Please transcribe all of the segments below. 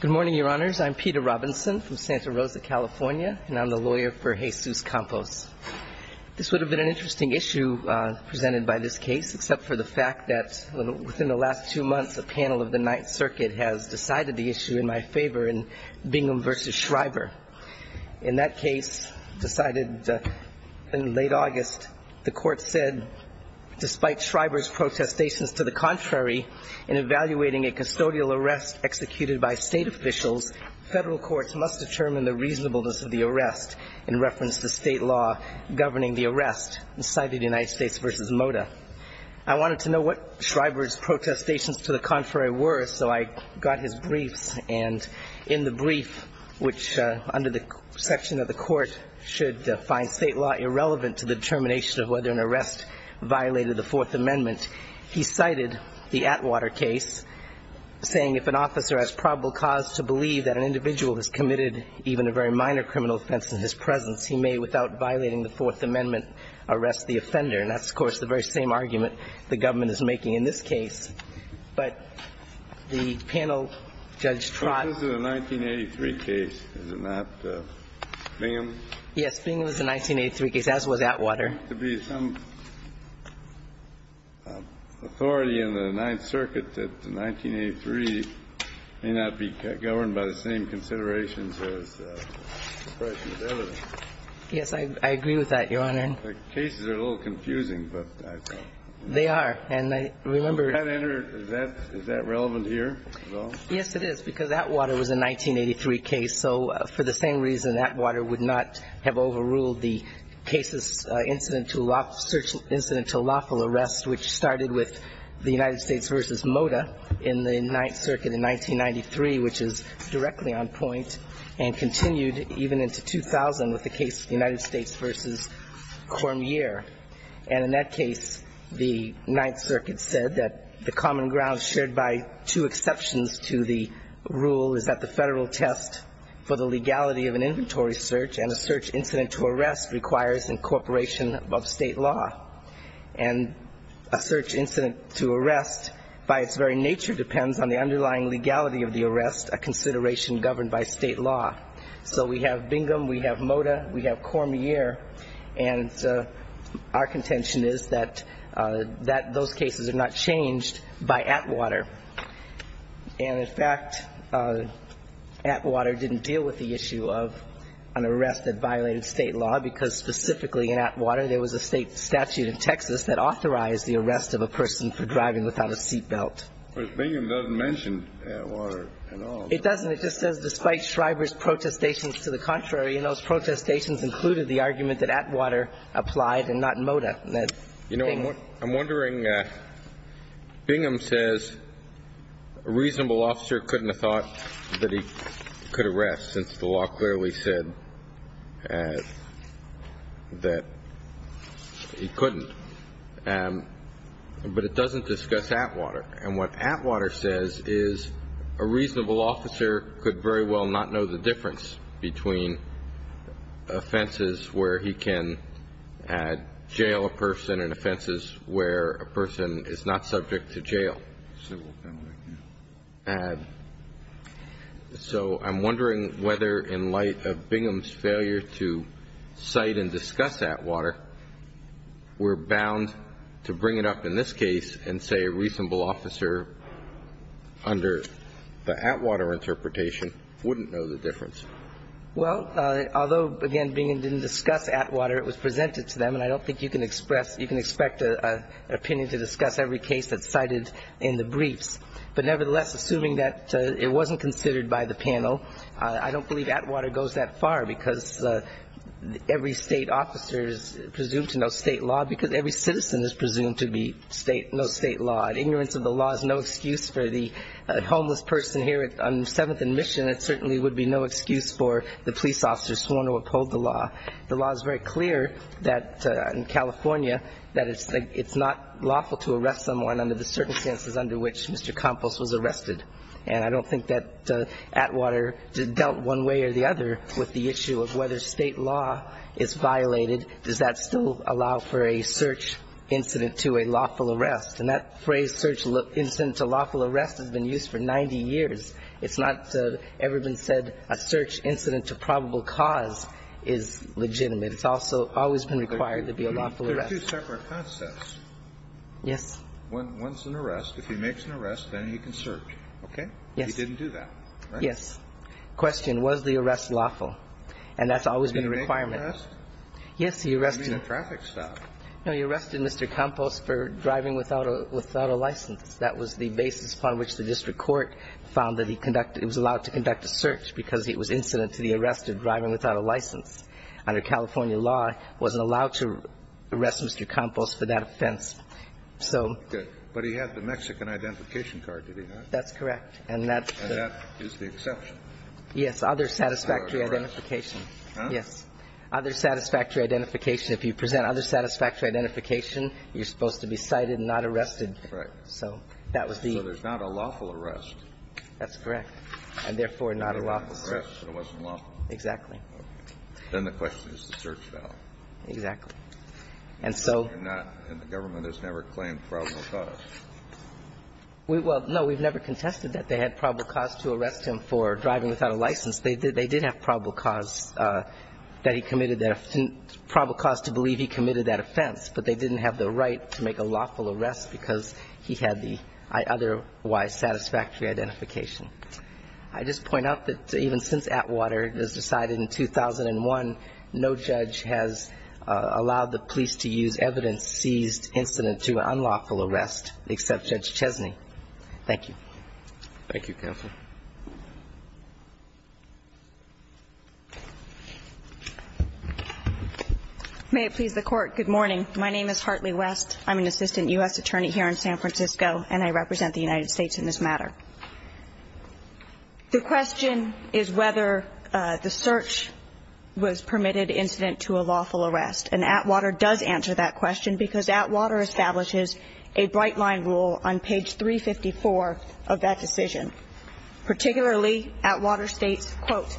Good morning, Your Honors. I'm Peter Robinson from Santa Rosa, California, and I'm the lawyer for Jesus Campos. This would have been an interesting issue presented by this case, except for the fact that within the last two months, a panel of the Ninth Circuit has decided the issue in my favor and being a little bit of a In that case, decided in late August, the court said, Despite Shriver's protestations to the contrary, in evaluating a custodial arrest executed by state officials, federal courts must determine the reasonableness of the arrest, in reference to state law governing the arrest, cited United States v. Mota. I wanted to know what Shriver's protestations to the contrary were, so I got his briefs, and in the brief, which under the section of the court should find state law irrelevant to the determination of whether an arrest violated the Fourth Amendment, he cited the Atwater case, saying, If an officer has probable cause to believe that an individual has committed even a very minor criminal offense in his presence, he may, without violating the Fourth Amendment, arrest the offender. And that's, of course, the very same argument the government is making in this case, but the panel, Judge Trott This is a 1983 case, is it not? Bingham? Yes, Bingham is a 1983 case, as was Atwater. There has to be some authority in the Ninth Circuit that 1983 may not be governed by the same considerations as the question of evidence. Yes, I agree with that, Your Honor. The cases are a little confusing, but I thought They are, and I remember Is that relevant here at all? Yes, it is, because Atwater was a 1983 case, so for the same reason, Atwater would not have overruled the cases incident to lawful arrest, which started with the United States v. Mota in the Ninth Circuit in 1993, which is directly on point, and continued even into 2000 with the case of the United States v. Mota. And in that case, the Ninth Circuit said that the common ground shared by two exceptions to the rule is that the federal test for the legality of an inventory search and a search incident to arrest requires incorporation of state law. And a search incident to arrest, by its very nature, depends on the underlying legality of the arrest, a consideration governed by state law. So we have Bingham, we have Mota, we have Cormier, and our contention is that those cases are not changed by Atwater. And, in fact, Atwater didn't deal with the issue of an arrest that violated state law, because specifically in Atwater, there was a state statute in Texas that authorized the arrest of a person for driving without a seat belt. Of course, Bingham doesn't mention Atwater at all. It doesn't. It just says, despite Shriver's protestations to the contrary, and those protestations included the argument that Atwater applied and not Mota. You know, I'm wondering, Bingham says a reasonable officer couldn't have thought that he could arrest, since the law clearly said that he couldn't. But it doesn't discuss Atwater. And what Atwater says is a reasonable officer could very well not know the difference between offenses where he can jail a person and offenses where a person is not subject to jail. So I'm wondering whether, in light of Bingham's failure to cite and discuss Atwater, we're bound to bring it up in this case and say a reasonable officer under the Atwater interpretation wouldn't know the difference. Well, although, again, Bingham didn't discuss Atwater, it was presented to them. And I don't think you can expect an opinion to discuss every case that's cited in the briefs. But nevertheless, assuming that it wasn't considered by the panel, I don't believe Atwater goes that far, because every state officer is presumed to know state law, because every citizen is presumed to know state law. And ignorance of the law is no excuse for the homeless person here on Seventh and Mission. It certainly would be no excuse for the police officer sworn to uphold the law. The law is very clear that in California that it's not lawful to arrest someone under the circumstances under which Mr. Campos was arrested. And I don't think that Atwater dealt one way or the other with the issue of whether state law is violated. Does that still allow for a search incident to a lawful arrest? And that phrase, search incident to lawful arrest, has been used for 90 years. It's not ever been said a search incident to probable cause is legitimate. It's also always been required to be a lawful arrest. Kennedy. There are two separate concepts. Yes. One's an arrest. If he makes an arrest, then he can search, okay? Yes. He didn't do that, right? Yes. Question, was the arrest lawful? And that's always been a requirement. Did he make an arrest? Yes, he arrested him. He made a traffic stop. No, he arrested Mr. Campos for driving without a license. That was the basis upon which the district court found that he was allowed to conduct a search because it was incident to the arrest of driving without a license. Under California law, wasn't allowed to arrest Mr. Campos for that offense. So he did. But he had the Mexican identification card, did he not? That's correct. And that is the exception. Yes. Other satisfactory identification. Yes. Other satisfactory identification. If you present other satisfactory identification, you're supposed to be cited and not arrested. Correct. So that was the ---- So there's not a lawful arrest. That's correct. And therefore, not a lawful search. It wasn't lawful. Exactly. Then the question is the search file. Exactly. And so ---- And the government has never claimed probable cause. Well, no, we've never contested that they had probable cause to arrest him for driving without a license. They did have probable cause that he committed that ---- probable cause to believe he committed that offense. But they didn't have the right to make a lawful arrest because he had the otherwise satisfactory identification. I just point out that even since Atwater, it was decided in 2001, no judge has allowed the police to use evidence seized incident to an unlawful arrest except Judge Chesney. Thank you. Thank you, Counsel. May it please the Court. Good morning. My name is Hartley West. I'm an assistant U.S. attorney here in San Francisco, and I represent the United States in this matter. The question is whether the search was permitted incident to a lawful arrest. And Atwater does answer that question because Atwater establishes a bright line rule on page 354 of that decision. Particularly, Atwater states, quote,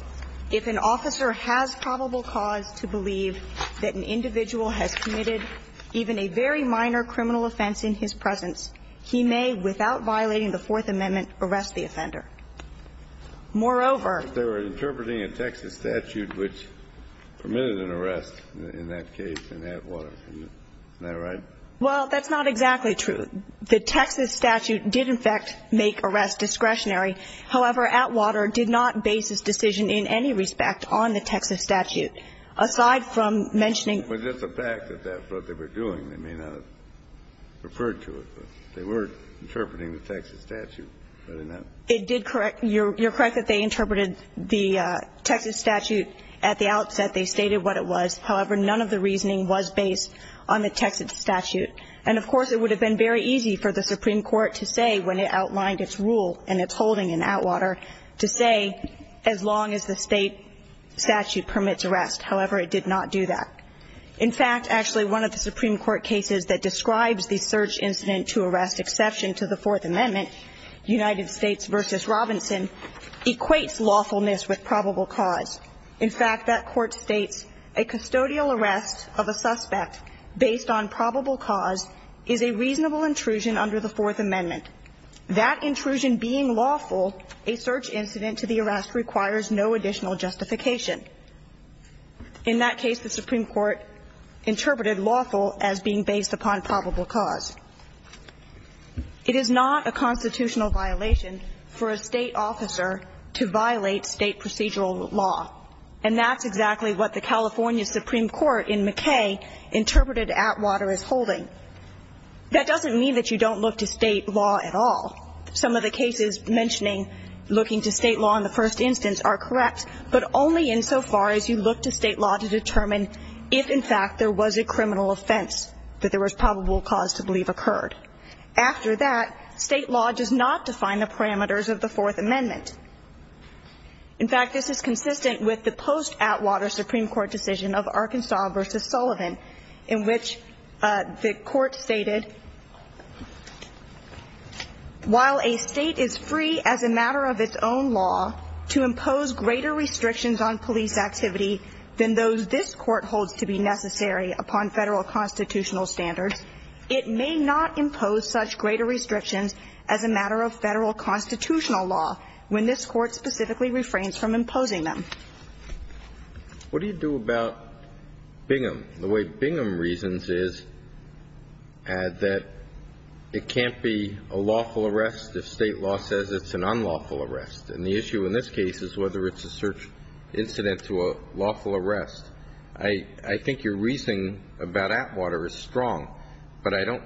if an officer has probable cause to believe that an offender has committed even a very minor criminal offense in his presence, he may, without violating the Fourth Amendment, arrest the offender. Moreover ---- But they were interpreting a Texas statute which permitted an arrest in that case in Atwater. Isn't that right? Well, that's not exactly true. The Texas statute did, in fact, make arrests discretionary. However, Atwater did not base his decision in any respect on the Texas statute. Aside from mentioning ---- Was this a fact that that's what they were doing? They may not have referred to it, but they were interpreting the Texas statute, but in that ---- It did correct. You're correct that they interpreted the Texas statute at the outset. They stated what it was. However, none of the reasoning was based on the Texas statute. And, of course, it would have been very easy for the Supreme Court to say when it outlined its rule and its holding in Atwater to say as long as the State statute permits arrest. However, it did not do that. In fact, actually, one of the Supreme Court cases that describes the search incident to arrest exception to the Fourth Amendment, United States v. Robinson, equates lawfulness with probable cause. In fact, that court states a custodial arrest of a suspect based on probable cause is a reasonable intrusion under the Fourth Amendment. That intrusion being lawful, a search incident to the arrest requires no additional justification. In that case, the Supreme Court interpreted lawful as being based upon probable cause. It is not a constitutional violation for a State officer to violate State procedural law. And that's exactly what the California Supreme Court in McKay interpreted Atwater as holding. That doesn't mean that you don't look to State law at all. Some of the cases mentioning looking to State law in the first instance are correct, but only insofar as you look to State law to determine if, in fact, there was a criminal offense that there was probable cause to believe occurred. After that, State law does not define the parameters of the Fourth Amendment. In fact, this is consistent with the post-Atwater Supreme Court decision of Arkansas v. Sullivan, in which the court stated, While a State is free as a matter of its own law to impose greater restrictions on police activity than those this Court holds to be necessary upon Federal constitutional standards, it may not impose such greater restrictions as a matter of Federal constitutional law when this Court specifically refrains from imposing What do you do about Bingham? The way Bingham reasons is that it can't be a lawful arrest if State law says it's an unlawful arrest. And the issue in this case is whether it's a search incident to a lawful arrest. I think your reasoning about Atwater is strong, but I don't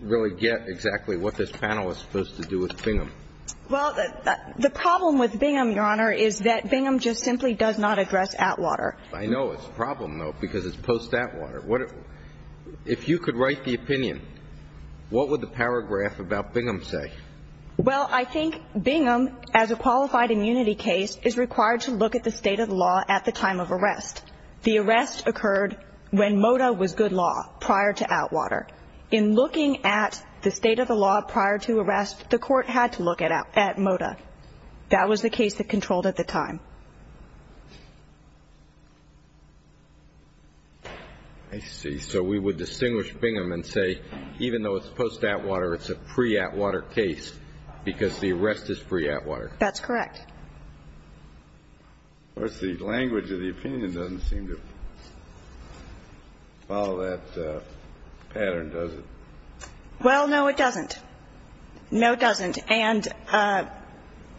really get exactly what this panel is supposed to do with Bingham. Well, the problem with Bingham, Your Honor, is that Bingham just simply does not address Atwater. I know it's a problem, though, because it's post-Atwater. If you could write the opinion, what would the paragraph about Bingham say? Well, I think Bingham, as a qualified immunity case, is required to look at the State of the law at the time of arrest. The arrest occurred when MOTA was good law prior to Atwater. In looking at the State of the law prior to arrest, the court had to look at MOTA. That was the case that controlled at the time. I see. So we would distinguish Bingham and say even though it's post-Atwater, it's a pre-Atwater case because the arrest is pre-Atwater. That's correct. Of course, the language of the opinion doesn't seem to follow that pattern, does it? Well, no, it doesn't. No, it doesn't. And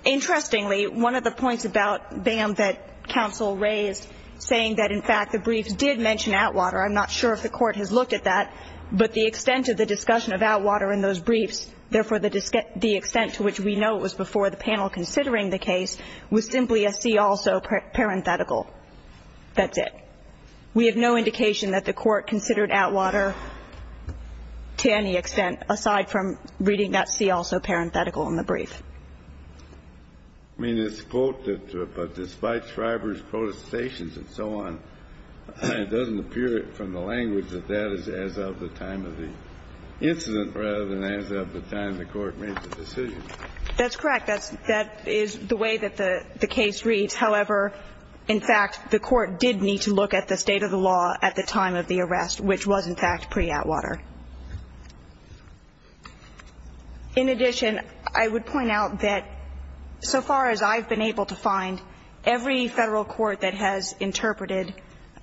interestingly, one of the points about Bingham that counsel raised, saying that in fact the briefs did mention Atwater, I'm not sure if the court has looked at that, but the extent of the discussion of Atwater in those briefs, therefore the extent to which we know it was before the panel considering the case, was simply a see also parenthetical. That's it. We have no indication that the court considered Atwater to any extent, aside from reading that see also parenthetical in the brief. I mean, this quote that despite Shriver's quotations and so on, it doesn't appear from the language that that is as of the time of the incident rather than as of the time the court made the decision. That's correct. That is the way that the case reads. However, in fact, the court did need to look at the state of the law at the time of In addition, I would point out that so far as I've been able to find, every Federal court that has interpreted,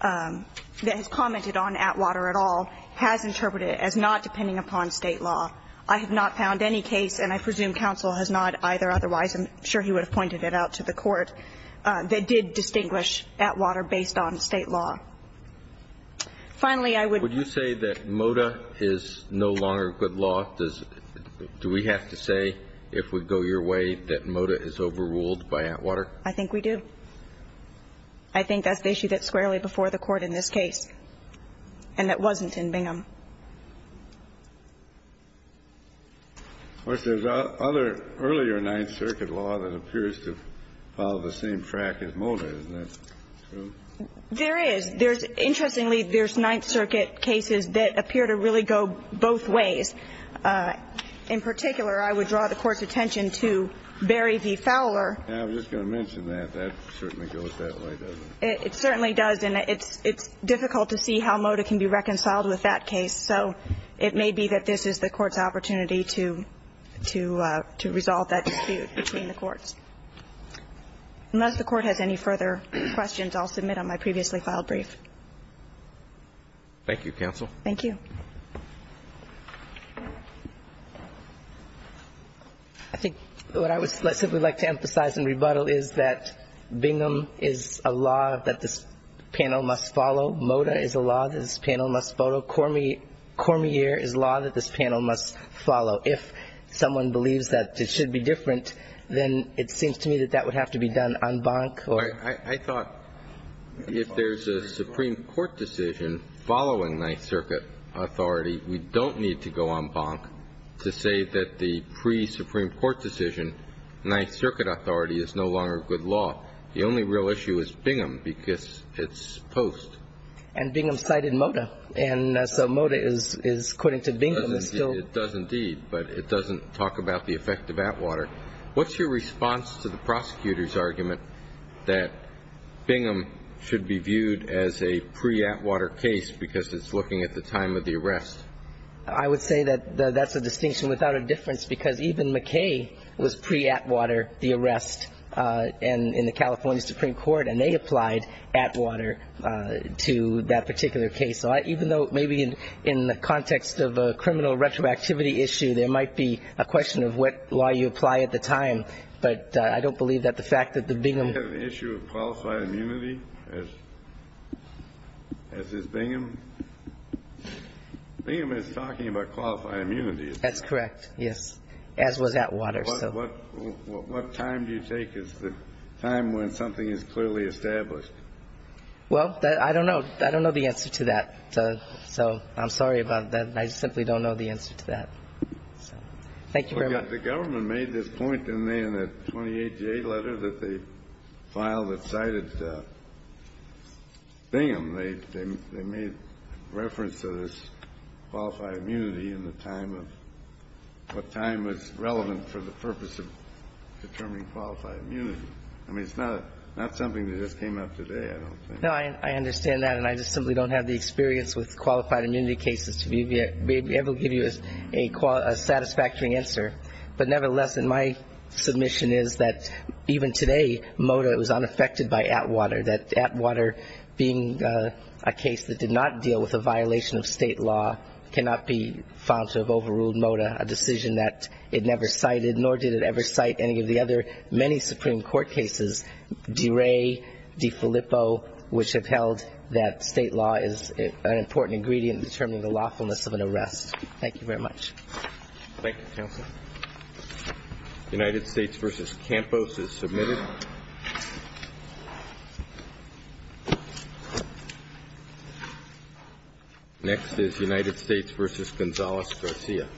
that has commented on Atwater at all, has interpreted it as not depending upon state law. I have not found any case, and I presume counsel has not either otherwise, I'm sure he would have pointed it out to the court, that did distinguish Atwater based on state law. Finally, I would Would you say that MOTA is no longer good law? Do we have to say, if we go your way, that MOTA is overruled by Atwater? I think we do. I think that's the issue that's squarely before the court in this case, and that wasn't in Bingham. There's other earlier Ninth Circuit law that appears to follow the same track as MOTA. Isn't that true? There is. Interestingly, there's Ninth Circuit cases that appear to really go both ways. In particular, I would draw the Court's attention to Berry v. Fowler. I was just going to mention that. That certainly goes that way, doesn't it? It certainly does. And it's difficult to see how MOTA can be reconciled with that case. So it may be that this is the Court's opportunity to resolve that dispute between the courts. Unless the Court has any further questions, I'll submit on my previously filed Thank you, counsel. Thank you. I think what I would simply like to emphasize in rebuttal is that Bingham is a law that this panel must follow. MOTA is a law that this panel must follow. Cormier is a law that this panel must follow. If someone believes that it should be different, then it seems to me that that would have to be done en banc. I thought if there's a Supreme Court decision following Ninth Circuit authority, we don't need to go en banc to say that the pre-Supreme Court decision, Ninth Circuit authority is no longer good law. The only real issue is Bingham because it's post. And Bingham cited MOTA. And so MOTA is, according to Bingham, is still It does indeed. But it doesn't talk about the effect of Atwater. What's your response to the prosecutor's argument that Bingham should be viewed as a pre-Atwater case because it's looking at the time of the arrest? I would say that that's a distinction without a difference because even McKay was pre-Atwater, the arrest in the California Supreme Court, and they applied Atwater to that particular case. So even though maybe in the context of a criminal retroactivity issue, there might be a question of what law you apply at the time. But I don't believe that the fact that the Bingham You have an issue of qualified immunity, as is Bingham? Bingham is talking about qualified immunity. That's correct, yes, as was Atwater. What time do you take? Is the time when something is clearly established? Well, I don't know. I don't know the answer to that. So I'm sorry about that. I simply don't know the answer to that. Thank you very much. The government made this point in the 28-J letter that they filed that cited Bingham. They made reference to this qualified immunity in the time of what time was relevant for the purpose of determining qualified immunity. I mean, it's not something that just came up today, I don't think. No, I understand that. And I just simply don't have the experience with qualified immunity cases to be able to give you a satisfactory answer. But nevertheless, in my submission is that even today, MOTA was unaffected by Atwater, that Atwater being a case that did not deal with a violation of state law cannot be found to have overruled MOTA, a decision that it never cited, nor did it ever cite any of the other many Supreme Court cases, DeRay, DeFilippo, which have held that state law is an important ingredient in determining the lawfulness of an arrest. Thank you very much. Thank you, counsel. United States v. Campos is submitted. Next is United States v. Gonzales-Garcia.